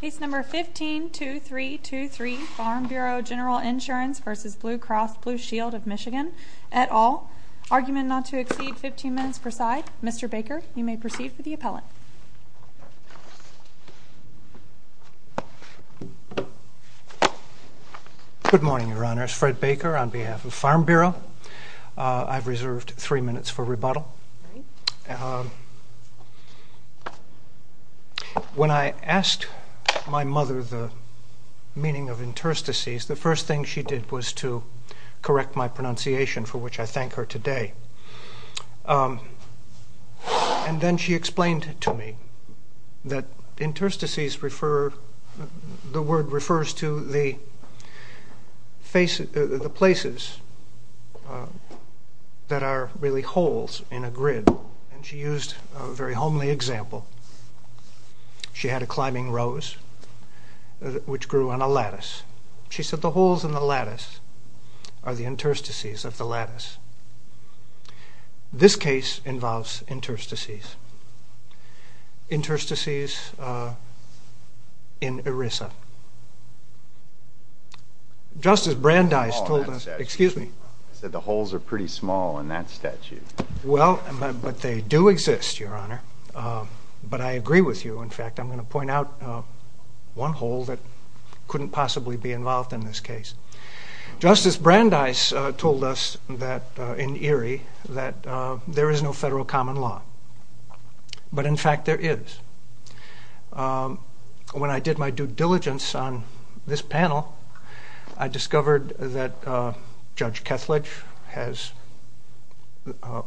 Case No. 15-2323, Farm Bureau General Insurance v. Blue Cross Blue Shield of Michigan, et al. Argument not to exceed 15 minutes per side. Mr. Baker, you may proceed with the appellate. Good morning, Your Honors. Fred Baker on behalf of Farm Bureau. When I asked my mother the meaning of interstices, the first thing she did was to correct my pronunciation, for which I thank her today. And then she explained to me that interstices refer, the word refers to the places that are really holes in a grid. And she used a very homely example. She had a climbing rose which grew on a lattice. She said the holes in the lattice are the interstices of the lattice. This case involves interstices. Interstices in ERISA. Just as Brandeis told us, excuse me. I said the holes are pretty small in that statue. Well, but they do exist, Your Honor. But I agree with you. In fact, I'm going to point out one hole that couldn't possibly be involved in this case. Just as Brandeis told us that in ERI that there is no federal common law. But in fact there is. When I did my due diligence on this panel, I discovered that Judge Kethledge has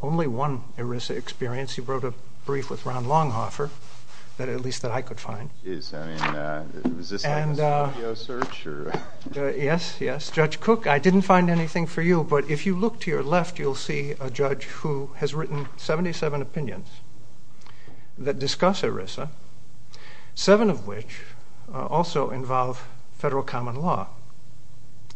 only one ERISA experience. He wrote a brief with Ron Longhofer, at least that I could find. Yes, I mean, is this a video search? Yes, yes. Judge Cook, I didn't find anything for you. But if you look to your left, you'll see a judge who has written 77 opinions that discuss ERISA, seven of which also involve federal common law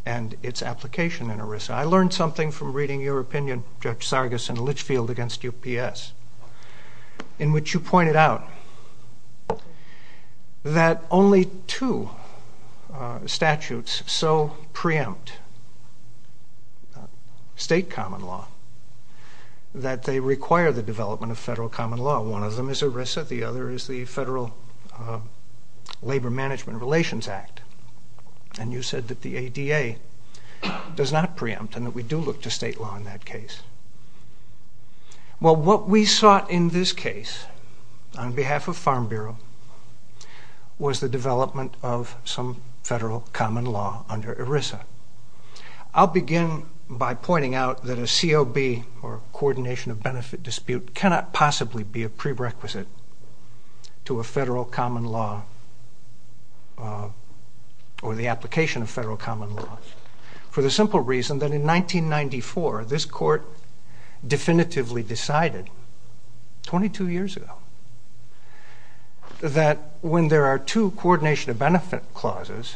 and its application in ERISA. I learned something from reading your opinion, Judge Sargas and Litchfield, against UPS, in which you pointed out that only two statutes so preempt state common law that they require the development of federal common law. One of them is ERISA. The other is the Federal Labor Management Relations Act. And you said that the ADA does not preempt and that we do look to state law in that case. Well, what we sought in this case, on behalf of Farm Bureau, was the development of some federal common law under ERISA. I'll begin by pointing out that a COB, or Coordination of Benefit Dispute, cannot possibly be a prerequisite to a federal common law or the application of federal common law, for the simple reason that in 1994, this court definitively decided, 22 years ago, that when there are two coordination of benefit clauses,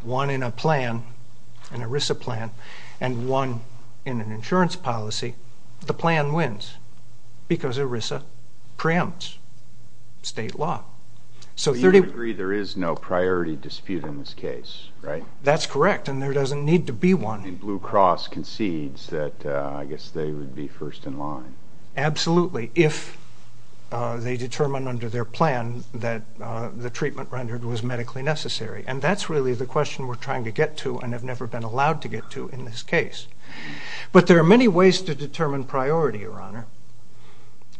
one in a plan, an ERISA plan, and one in an insurance policy, the plan wins because ERISA preempts state law. So you agree there is no priority dispute in this case, right? That's correct, and there doesn't need to be one. And Blue Cross concedes that, I guess, they would be first in line. Absolutely, if they determine under their plan that the treatment rendered was medically necessary. And that's really the question we're trying to get to and have never been allowed to get to in this case. The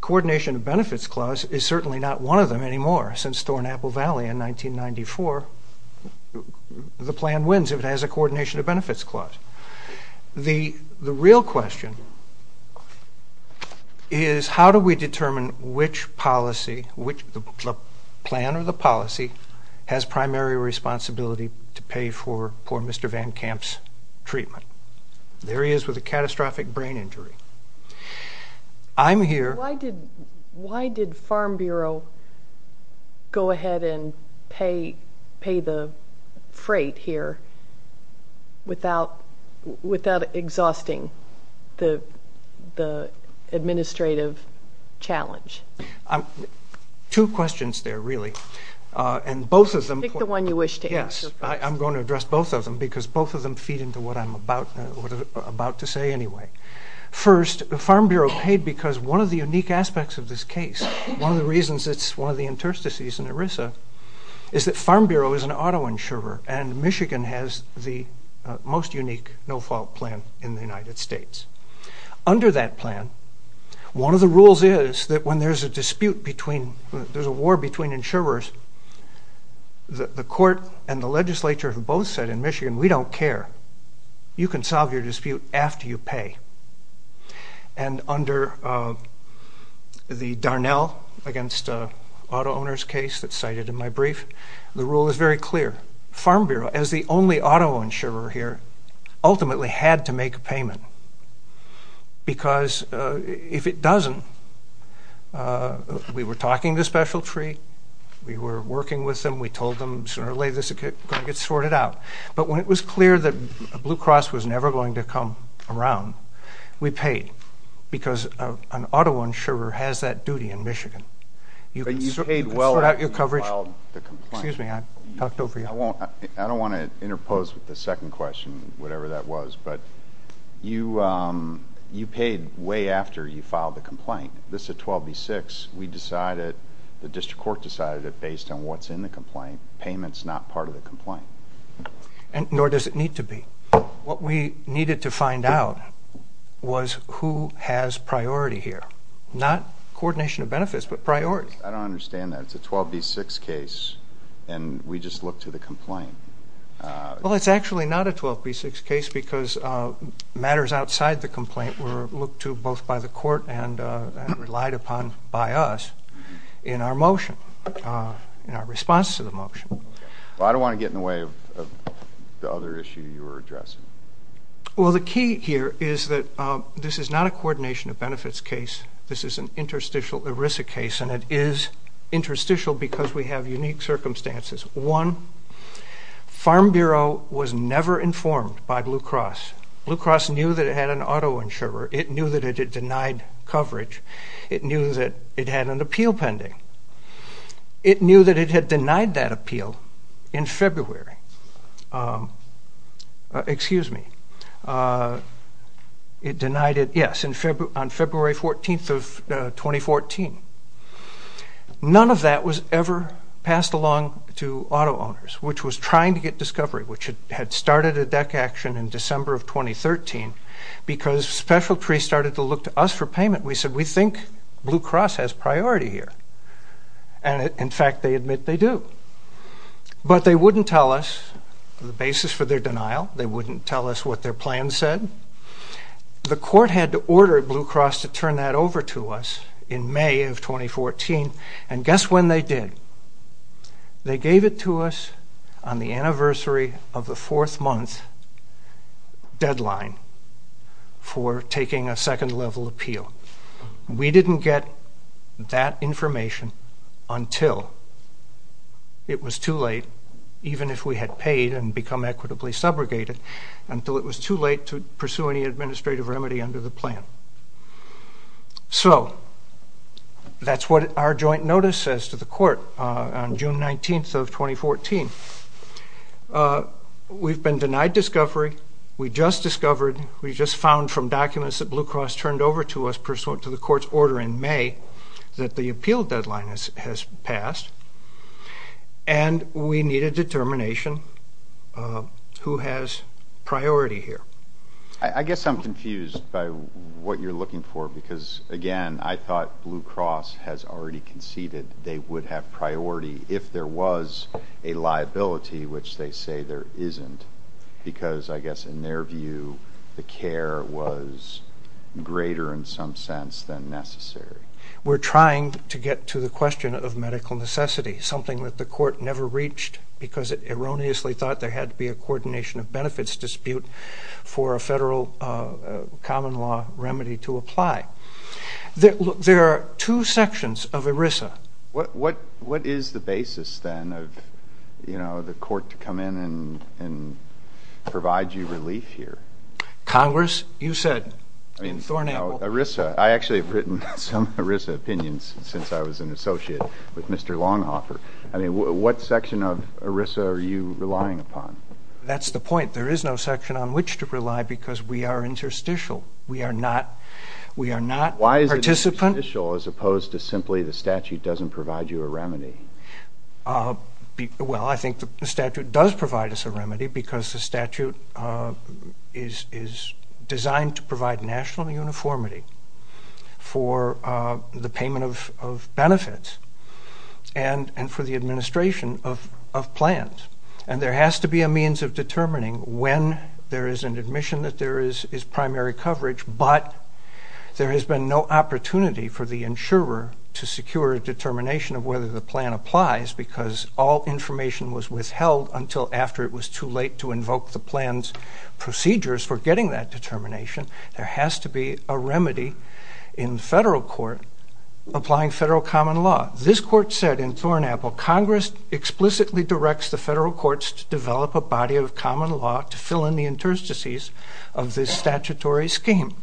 Coordination of Benefits Clause is certainly not one of them anymore. Since Thorne-Apple Valley in 1994, the plan wins if it has a Coordination of Benefits Clause. The real question is, how do we determine which policy, which plan or the policy, has primary responsibility to pay for poor Mr. Van Kamp's treatment? There he is with a catastrophic brain injury. I'm here. Why did Farm Bureau go ahead and pay the freight here without exhausting the administrative challenge? Two questions there, really. Pick the one you wish to answer first. I'm going to address both of them because both of them feed into what I'm about to say anyway. First, Farm Bureau paid because one of the unique aspects of this case, one of the reasons it's one of the interstices in ERISA, is that Farm Bureau is an auto insurer, and Michigan has the most unique no-fault plan in the United States. Under that plan, one of the rules is that when there's a dispute between, when there's a war between insurers, the court and the legislature have both said in Michigan, we don't care, you can solve your dispute after you pay. And under the Darnell against auto owners case that's cited in my brief, the rule is very clear. Farm Bureau, as the only auto insurer here, ultimately had to make a payment because if it doesn't, we were talking to Specialtree, we were working with them, we told them sooner or later this is going to get sorted out. But when it was clear that Blue Cross was never going to come around, we paid, because an auto insurer has that duty in Michigan. But you paid well after you filed the complaint. Excuse me, I talked over you. I don't want to interpose with the second question, whatever that was, but you paid way after you filed the complaint. This is a 12B6. We decided, the district court decided it based on what's in the complaint. Payment's not part of the complaint. Nor does it need to be. What we needed to find out was who has priority here, not coordination of benefits, but priority. I don't understand that. Well, it's actually not a 12B6 case because matters outside the complaint were looked to both by the court and relied upon by us in our motion, in our response to the motion. Well, I don't want to get in the way of the other issue you were addressing. Well, the key here is that this is not a coordination of benefits case. This is an interstitial ERISA case, and it is interstitial because we have unique circumstances. One, Farm Bureau was never informed by Blue Cross. Blue Cross knew that it had an auto insurer. It knew that it had denied coverage. It knew that it had an appeal pending. It knew that it had denied that appeal in February. Excuse me. It denied it, yes, on February 14th of 2014. None of that was ever passed along to auto owners, which was trying to get discovery, which had started a DEC action in December of 2013 because Special Trees started to look to us for payment. We said, we think Blue Cross has priority here, and, in fact, they admit they do. But they wouldn't tell us the basis for their denial. They wouldn't tell us what their plan said. The court had to order Blue Cross to turn that over to us in May of 2014, and guess when they did. They gave it to us on the anniversary of the fourth month deadline for taking a second-level appeal. We didn't get that information until it was too late, even if we had paid and become equitably subrogated, until it was too late to pursue any administrative remedy under the plan. So that's what our joint notice says to the court on June 19th of 2014. We've been denied discovery. We just discovered, we just found from documents that Blue Cross turned over to us pursuant to the court's order in May, that the appeal deadline has passed, and we need a determination who has priority here. I guess I'm confused by what you're looking for because, again, I thought Blue Cross has already conceded they would have priority if there was a liability, which they say there isn't, because I guess in their view the care was greater in some sense than necessary. We're trying to get to the question of medical necessity, something that the court never reached because it erroneously thought there had to be a coordination of benefits dispute for a federal common law remedy to apply. There are two sections of ERISA. What is the basis, then, of the court to come in and provide you relief here? Congress, you said in Thornaple- ERISA. I actually have written some ERISA opinions since I was an associate with Mr. Longhoffer. What section of ERISA are you relying upon? That's the point. There is no section on which to rely because we are interstitial. We are not participant- Well, I think the statute does provide us a remedy because the statute is designed to provide national uniformity for the payment of benefits and for the administration of plans, and there has to be a means of determining when there is an admission that there is primary coverage, but there has been no opportunity for the insurer to secure a determination of whether the plan applies because all information was withheld until after it was too late to invoke the plan's procedures for getting that determination. There has to be a remedy in federal court applying federal common law. This court said in Thornaple, Congress explicitly directs the federal courts to develop a body of common law to fill in the interstices of this statutory scheme.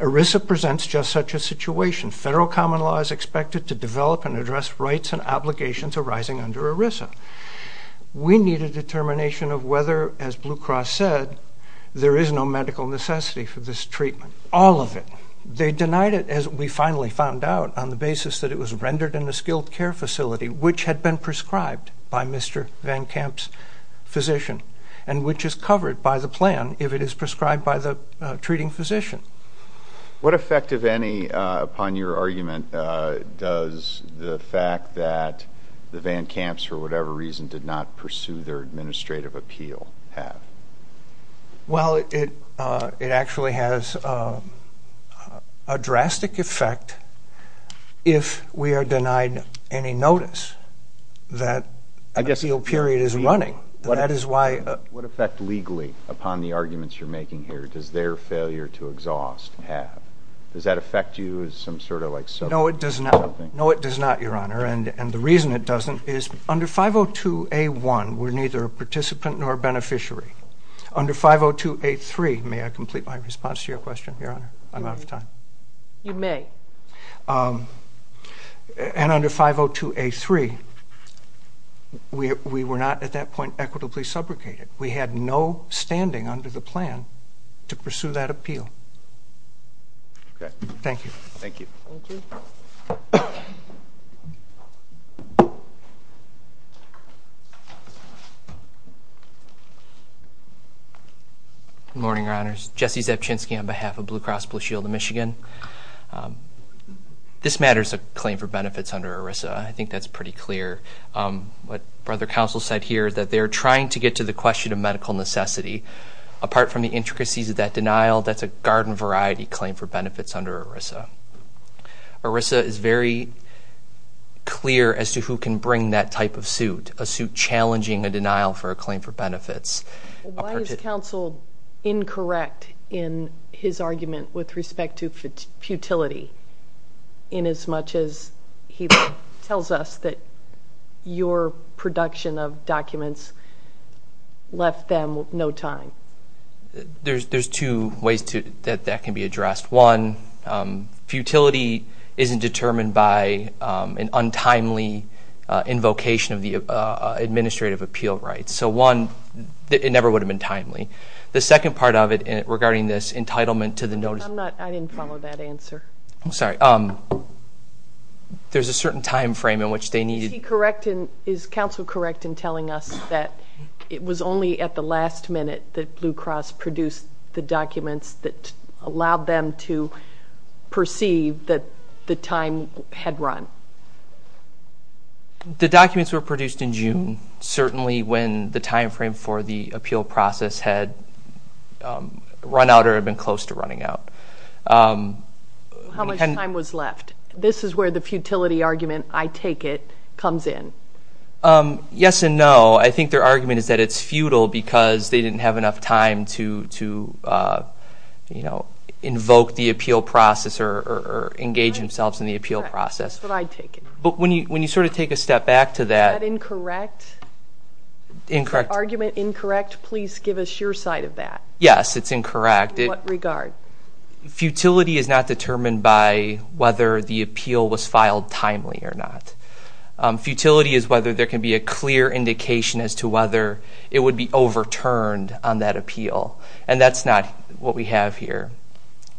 ERISA presents just such a situation. Federal common law is expected to develop and address rights and obligations arising under ERISA. We need a determination of whether, as Blue Cross said, there is no medical necessity for this treatment. All of it. They denied it, as we finally found out, on the basis that it was rendered in a skilled care facility, which had been prescribed by Mr. Van Kamp's physician, and which is covered by the plan if it is prescribed by the treating physician. What effect, if any, upon your argument does the fact that the Van Kamps, for whatever reason, did not pursue their administrative appeal have? Well, it actually has a drastic effect if we are denied any notice that an appeal period is running. What effect, legally, upon the arguments you're making here, does their failure to exhaust have? Does that affect you as some sort of subpoena? No, it does not. No, it does not, Your Honor. And the reason it doesn't is under 502A1, we're neither a participant nor a beneficiary. Under 502A3, may I complete my response to your question, Your Honor? I'm out of time. You may. And under 502A3, we were not at that point equitably subrogated. We had no standing under the plan to pursue that appeal. Thank you. Thank you. Thank you. Good morning, Your Honors. Jesse Zabczynski on behalf of Blue Cross Blue Shield of Michigan. This matter is a claim for benefits under ERISA. I think that's pretty clear. What Brother Counsel said here is that they're trying to get to the question of medical necessity. Apart from the intricacies of that denial, that's a garden variety claim for benefits under ERISA. ERISA is very clear as to who can bring that type of suit, a suit challenging a denial for a claim for benefits. Why is Counsel incorrect in his argument with respect to futility, inasmuch as he tells us that your production of documents left them no time? There's two ways that that can be addressed. One, futility isn't determined by an untimely invocation of the administrative appeal rights. So, one, it never would have been timely. The second part of it regarding this entitlement to the notice. I didn't follow that answer. I'm sorry. There's a certain time frame in which they needed. Is Counsel correct in telling us that it was only at the last minute that Blue Cross produced the documents that allowed them to perceive that the time had run? The documents were produced in June, certainly when the time frame for the appeal process had run out or been close to running out. How much time was left? This is where the futility argument, I take it, comes in. Yes and no. I think their argument is that it's futile because they didn't have enough time to, you know, invoke the appeal process or engage themselves in the appeal process. That's what I take it. But when you sort of take a step back to that. Is that incorrect? Incorrect. Is that argument incorrect? Please give us your side of that. Yes, it's incorrect. In what regard? Futility is not determined by whether the appeal was filed timely or not. Futility is whether there can be a clear indication as to whether it would be overturned on that appeal, and that's not what we have here.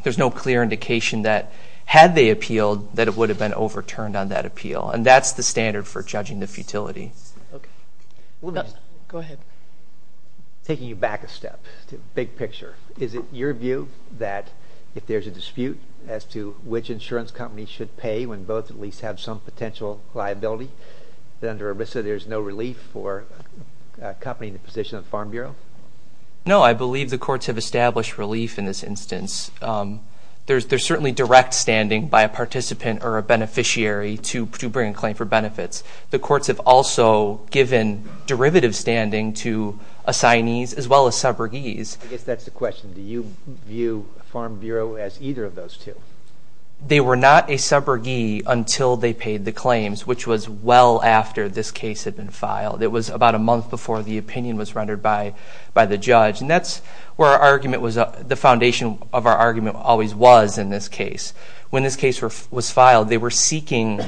There's no clear indication that had they appealed that it would have been overturned on that appeal, and that's the standard for judging the futility. Okay. Go ahead. Taking you back a step to big picture, is it your view that if there's a dispute as to which insurance company should pay when both at least have some potential liability, that under ERISA there's no relief for accompanying the position of Farm Bureau? No, I believe the courts have established relief in this instance. There's certainly direct standing by a participant or a beneficiary to bring a claim for benefits. The courts have also given derivative standing to assignees as well as subrogees. I guess that's the question. Do you view Farm Bureau as either of those two? They were not a subrogee until they paid the claims, which was well after this case had been filed. It was about a month before the opinion was rendered by the judge, and that's where the foundation of our argument always was in this case. When this case was filed, they were seeking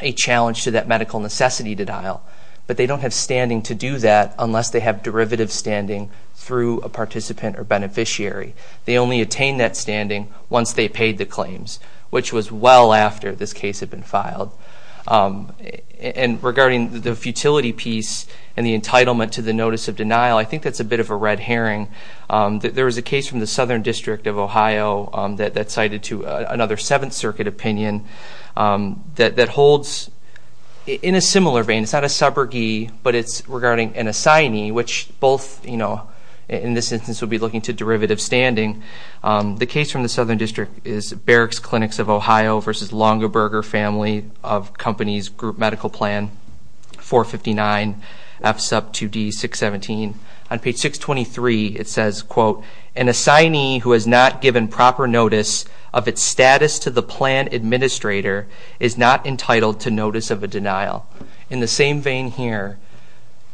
a challenge to that medical necessity to dial, but they don't have standing to do that unless they have derivative standing through a participant or beneficiary. They only attain that standing once they paid the claims, which was well after this case had been filed. And regarding the futility piece and the entitlement to the notice of denial, I think that's a bit of a red herring. There was a case from the Southern District of Ohio that cited to another Seventh Circuit opinion that holds in a similar vein. It's not a subrogee, but it's regarding an assignee, which both in this instance would be looking to derivative standing. The case from the Southern District is Barracks Clinics of Ohio versus Longaberger Family of Companies Group Medical Plan, 459 F sub 2D 617. On page 623, it says, quote, an assignee who has not given proper notice of its status to the plan administrator is not entitled to notice of a denial. In the same vein here,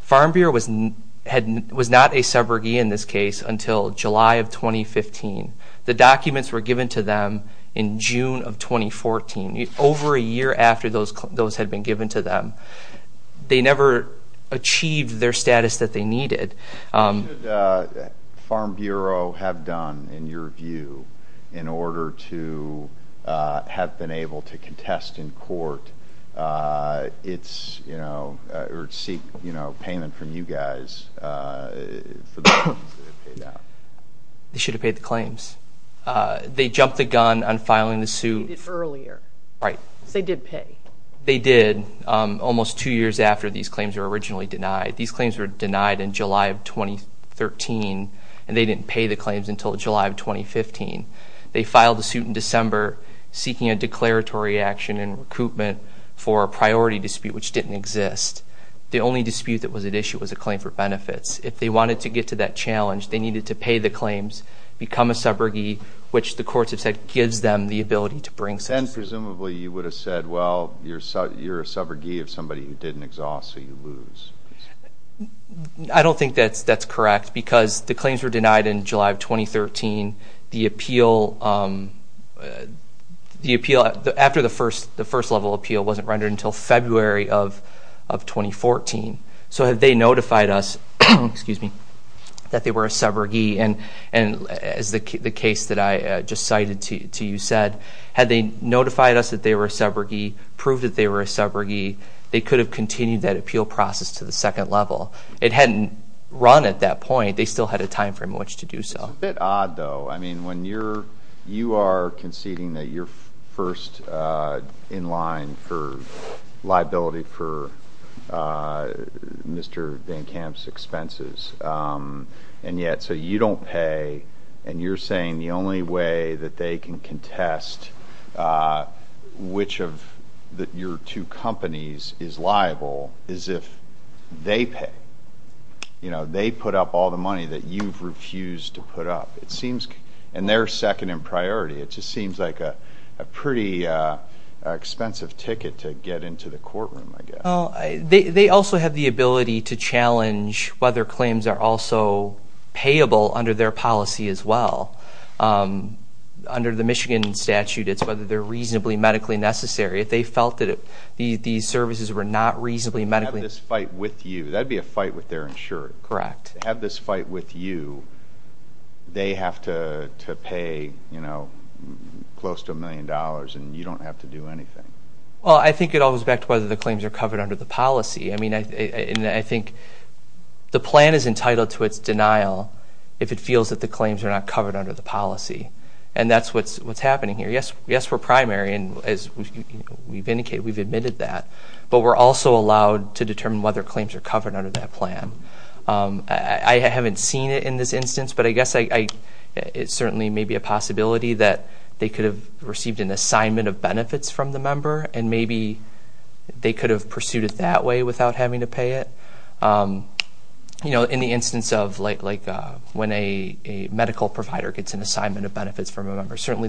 Farm Bureau was not a subrogee in this case until July of 2015. The documents were given to them in June of 2014, over a year after those had been given to them. They never achieved their status that they needed. What should Farm Bureau have done, in your view, in order to have been able to contest in court or seek payment from you guys for the claims that they paid out? They should have paid the claims. They jumped the gun on filing the suit. They did earlier. Right. They did pay. They did, almost two years after these claims were originally denied. These claims were denied in July of 2013, and they didn't pay the claims until July of 2015. They filed the suit in December, seeking a declaratory action in recoupment for a priority dispute, which didn't exist. The only dispute that was at issue was a claim for benefits. If they wanted to get to that challenge, they needed to pay the claims, become a subrogee, which the courts have said gives them the ability to bring such a suit. And presumably you would have said, well, you're a subrogee of somebody who didn't exhaust, so you lose. I don't think that's correct, because the claims were denied in July of 2013. The appeal after the first level appeal wasn't rendered until February of 2014. So had they notified us that they were a subrogee, and as the case that I just cited to you said, had they notified us that they were a subrogee, proved that they were a subrogee, they could have continued that appeal process to the second level. It hadn't run at that point. They still had a time frame in which to do so. It's a bit odd, though. When you are conceding that you're first in line for liability for Mr. Van Kamp's expenses, and yet you don't pay, and you're saying the only way that they can contest which of your two companies is liable is if they pay. They put up all the money that you've refused to put up. And they're second in priority. It just seems like a pretty expensive ticket to get into the courtroom, I guess. They also have the ability to challenge whether claims are also payable under their policy as well. Under the Michigan statute, it's whether they're reasonably medically necessary. If they have this fight with you, that would be a fight with their insurer. Correct. If they have this fight with you, they have to pay close to $1 million, and you don't have to do anything. Well, I think it all goes back to whether the claims are covered under the policy. I mean, I think the plan is entitled to its denial if it feels that the claims are not covered under the policy. And that's what's happening here. Yes, we're primary, and as we've indicated, we've admitted that. But we're also allowed to determine whether claims are covered under that plan. I haven't seen it in this instance, but I guess it certainly may be a possibility that they could have received an assignment of benefits from the member, and maybe they could have pursued it that way without having to pay it. In the instance of when a medical provider gets an assignment of benefits from a member, certainly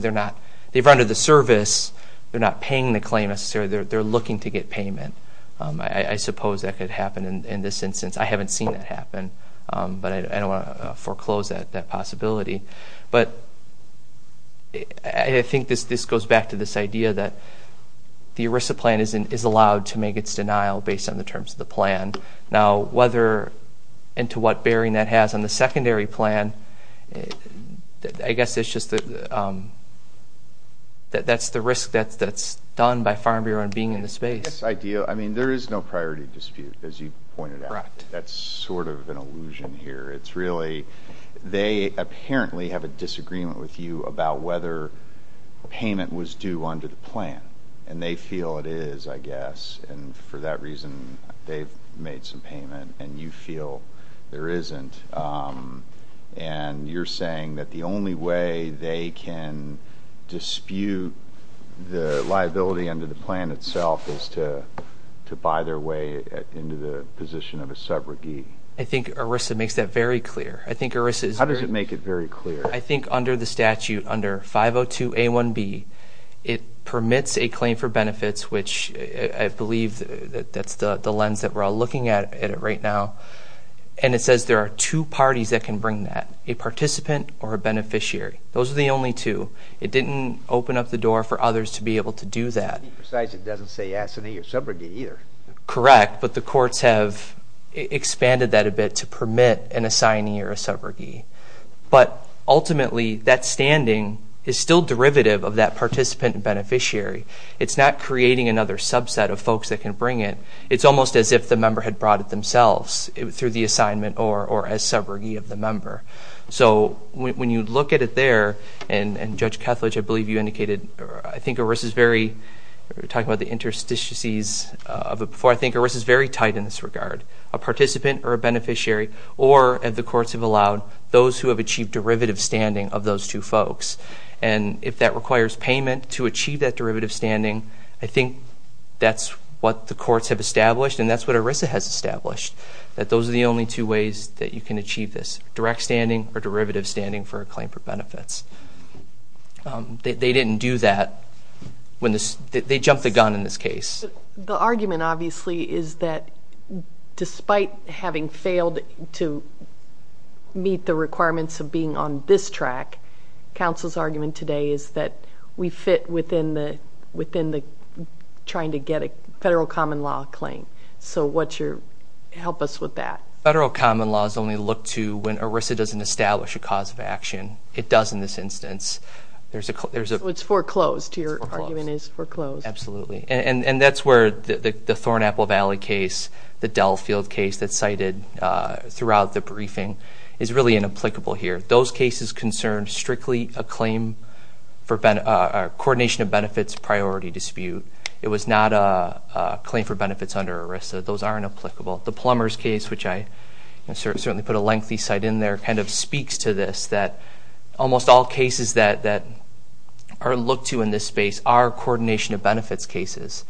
they've rendered the service. They're not paying the claim, necessarily. They're looking to get payment. I suppose that could happen in this instance. I haven't seen that happen, but I don't want to foreclose that possibility. But I think this goes back to this idea that the ERISA plan is allowed to make its denial based on the terms of the plan. Now, whether and to what bearing that has on the secondary plan, I guess it's just that that's the risk that's done by Farm Bureau in being in the space. I mean, there is no priority dispute, as you pointed out. That's sort of an illusion here. It's really they apparently have a disagreement with you about whether payment was due under the plan, and they feel it is, I guess, and for that reason they've made some payment, and you feel there isn't. And you're saying that the only way they can dispute the liability under the plan itself is to buy their way into the position of a subrogate. I think ERISA makes that very clear. How does it make it very clear? I think under the statute, under 502A1B, it permits a claim for benefits, which I believe that's the lens that we're all looking at right now. And it says there are two parties that can bring that, a participant or a beneficiary. Those are the only two. It didn't open up the door for others to be able to do that. To be precise, it doesn't say assignee or subrogate either. Correct, but the courts have expanded that a bit to permit an assignee or a subrogate. But ultimately, that standing is still derivative of that participant and beneficiary. It's not creating another subset of folks that can bring it. It's almost as if the member had brought it themselves through the assignment or as subrogate of the member. So when you look at it there, and Judge Kethledge, I believe you indicated, I think ERISA is very tight in this regard, a participant or a beneficiary, or, as the courts have allowed, those who have achieved derivative standing of those two folks. And if that requires payment to achieve that derivative standing, I think that's what the courts have established and that's what ERISA has established, that those are the only two ways that you can achieve this, direct standing or derivative standing for a claim for benefits. They didn't do that. They jumped the gun in this case. The argument, obviously, is that despite having failed to meet the requirements of being on this track, counsel's argument today is that we fit within the trying to get a federal common law claim. So help us with that. Federal common law is only looked to when ERISA doesn't establish a cause of action. It does in this instance. So it's foreclosed. Your argument is foreclosed. Absolutely. And that's where the Thornaple Valley case, the Delfield case that's cited throughout the briefing, is really inapplicable here. Those cases concern strictly a claim for a coordination of benefits priority dispute. It was not a claim for benefits under ERISA. Those aren't applicable. The Plumbers case, which I certainly put a lengthy cite in there, kind of speaks to this, that almost all cases that are looked to in this space are coordination of benefits cases.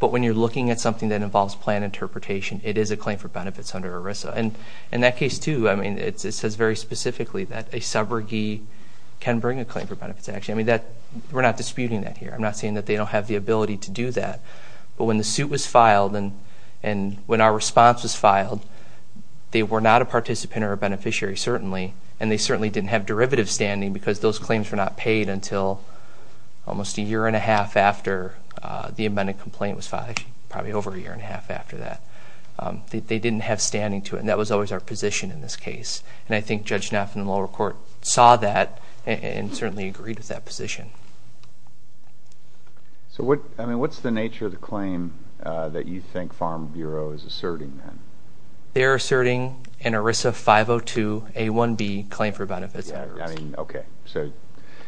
But when you're looking at something that involves plan interpretation, it is a claim for benefits under ERISA. In that case, too, it says very specifically that a subrogee can bring a claim for benefits action. We're not disputing that here. I'm not saying that they don't have the ability to do that. But when the suit was filed and when our response was filed, they were not a participant or a beneficiary, certainly, and they certainly didn't have derivative standing because those claims were not paid until almost a year and a half after the amended complaint was filed, actually probably over a year and a half after that. They didn't have standing to it. And that was always our position in this case. And I think Judge Knafen in the lower court saw that and certainly agreed with that position. So what's the nature of the claim that you think Farm Bureau is asserting then? They're asserting an ERISA 502A1B claim for benefits. Okay.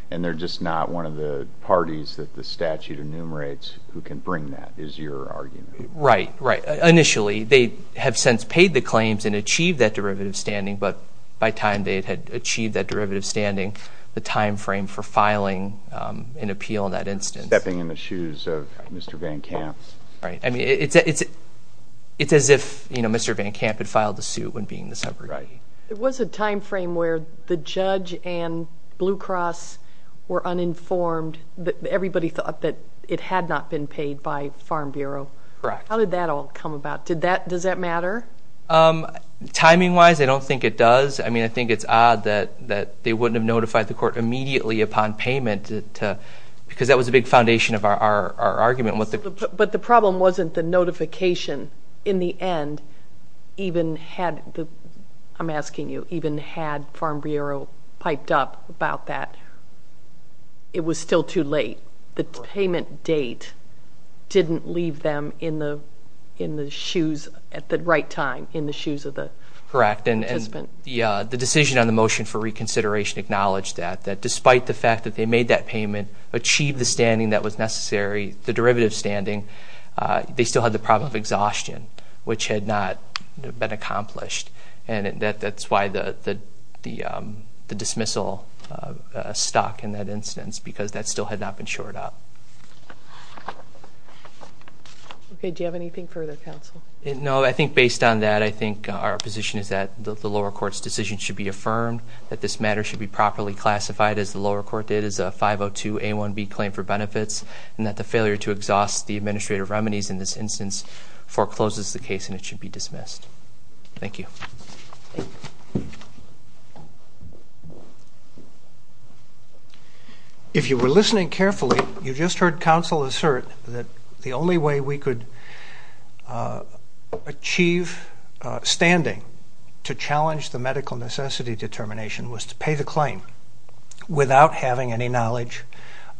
And they're just not one of the parties that the statute enumerates who can bring that? Is your argument. Right, right. Initially, they have since paid the claims and achieved that derivative standing, but by time they had achieved that derivative standing, the time frame for filing an appeal in that instance. Stepping in the shoes of Mr. Van Kamp. Right. I mean, it's as if Mr. Van Kamp had filed the suit when being the subrogate. There was a time frame where the judge and Blue Cross were uninformed. Everybody thought that it had not been paid by Farm Bureau. Correct. How did that all come about? Does that matter? Timing-wise, I don't think it does. I mean, I think it's odd that they wouldn't have notified the court immediately upon payment because that was a big foundation of our argument. But the problem wasn't the notification. In the end, even had, I'm asking you, even had Farm Bureau piped up about that, it was still too late. The payment date didn't leave them in the shoes at the right time, in the shoes of the participant. Correct. And the decision on the motion for reconsideration acknowledged that, that despite the fact that they made that payment, achieved the standing that was necessary, the derivative standing, they still had the problem of exhaustion, which had not been accomplished. And that's why the dismissal stuck in that instance because that still had not been shored up. Okay, do you have anything further, counsel? No, I think based on that, I think our position is that the lower court's decision should be affirmed, that this matter should be properly classified, as the lower court did, as a 502A1B claim for benefits, and that the failure to exhaust the administrative remedies in this instance forecloses the case and it should be dismissed. Thank you. If you were listening carefully, you just heard counsel assert that the only way we could achieve standing to challenge the medical necessity determination was to pay the claim without having any knowledge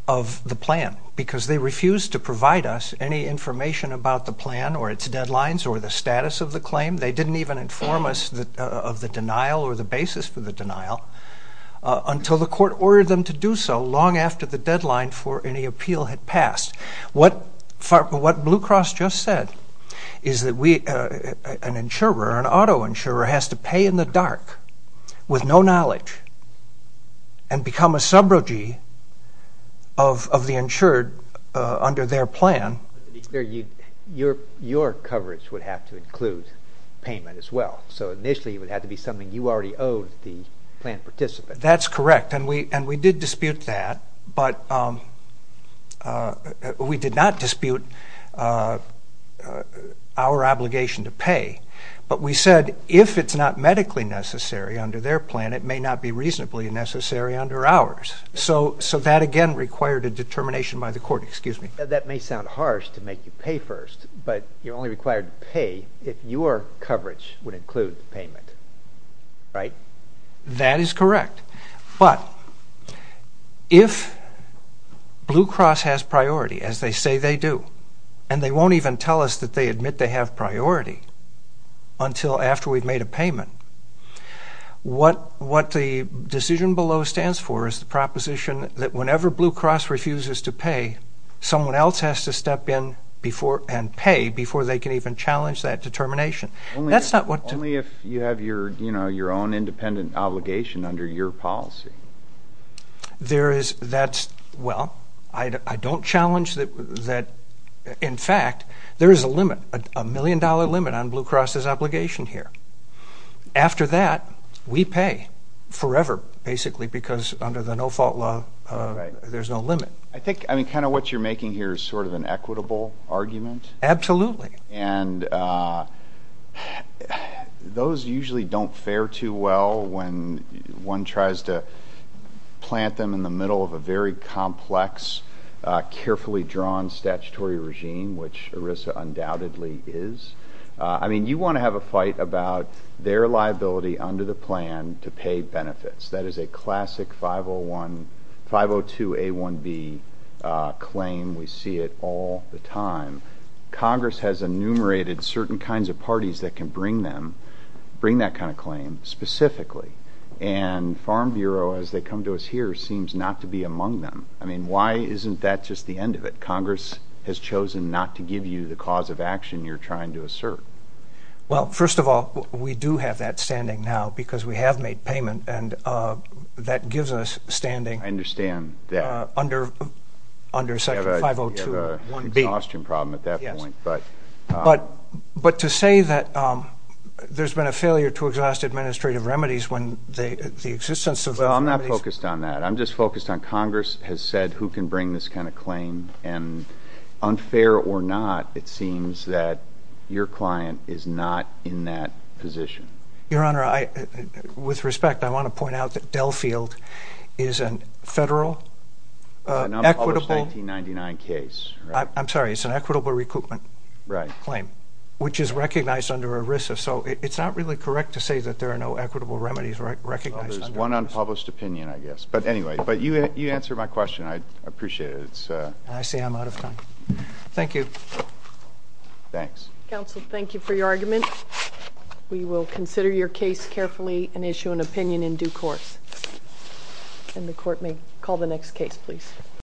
of the plan because they refused to provide us any information about the plan or its deadlines or the status of the claim. They didn't even inform us of the denial or the basis for the denial until the court ordered them to do so long after the deadline for any appeal had passed. What Blue Cross just said is that an insurer, an auto insurer, has to pay in the dark with no knowledge and become a subrogee of the insured under their plan. Your coverage would have to include payment as well. So initially it would have to be something you already owed the plan participant. That's correct, and we did dispute that, but we did not dispute our obligation to pay. But we said if it's not medically necessary under their plan, it may not be reasonably necessary under ours. So that, again, required a determination by the court. Excuse me. That may sound harsh to make you pay first, but you're only required to pay if your coverage would include payment, right? That is correct. But if Blue Cross has priority, as they say they do, and they won't even tell us that they admit they have priority until after we've made a payment, what the decision below stands for is the proposition that whenever Blue Cross refuses to pay, someone else has to step in and pay before they can even challenge that determination. Only if you have your own independent obligation under your policy. Well, I don't challenge that. In fact, there is a limit, a million-dollar limit, on Blue Cross's obligation here. After that, we pay forever, basically, because under the no-fault law, there's no limit. I think kind of what you're making here is sort of an equitable argument. Absolutely. And those usually don't fare too well when one tries to plant them in the middle of a very complex, carefully drawn statutory regime, which ERISA undoubtedly is. I mean, you want to have a fight about their liability under the plan to pay benefits. That is a classic 502A1B claim. We see it all the time. Congress has enumerated certain kinds of parties that can bring that kind of claim, specifically. And Farm Bureau, as they come to us here, seems not to be among them. I mean, why isn't that just the end of it? Congress has chosen not to give you the cause of action you're trying to assert. Well, first of all, we do have that standing now because we have made payment, and that gives us standing under section 502A1B. We have an exhaustion problem at that point. But to say that there's been a failure to exhaust administrative remedies when the existence of those remedies— Well, I'm not focused on that. I'm just focused on Congress has said who can bring this kind of claim. And unfair or not, it seems that your client is not in that position. Your Honor, with respect, I want to point out that Delfield is a federal equitable— It's an unpublished 1999 case, right? I'm sorry. It's an equitable recoupment claim, which is recognized under ERISA. So it's not really correct to say that there are no equitable remedies recognized under ERISA. There's one unpublished opinion, I guess. But anyway, you answered my question. I appreciate it. I see I'm out of time. Thank you. Thanks. Counsel, thank you for your argument. We will consider your case carefully and issue an opinion in due course. And the Court may call the next case, please.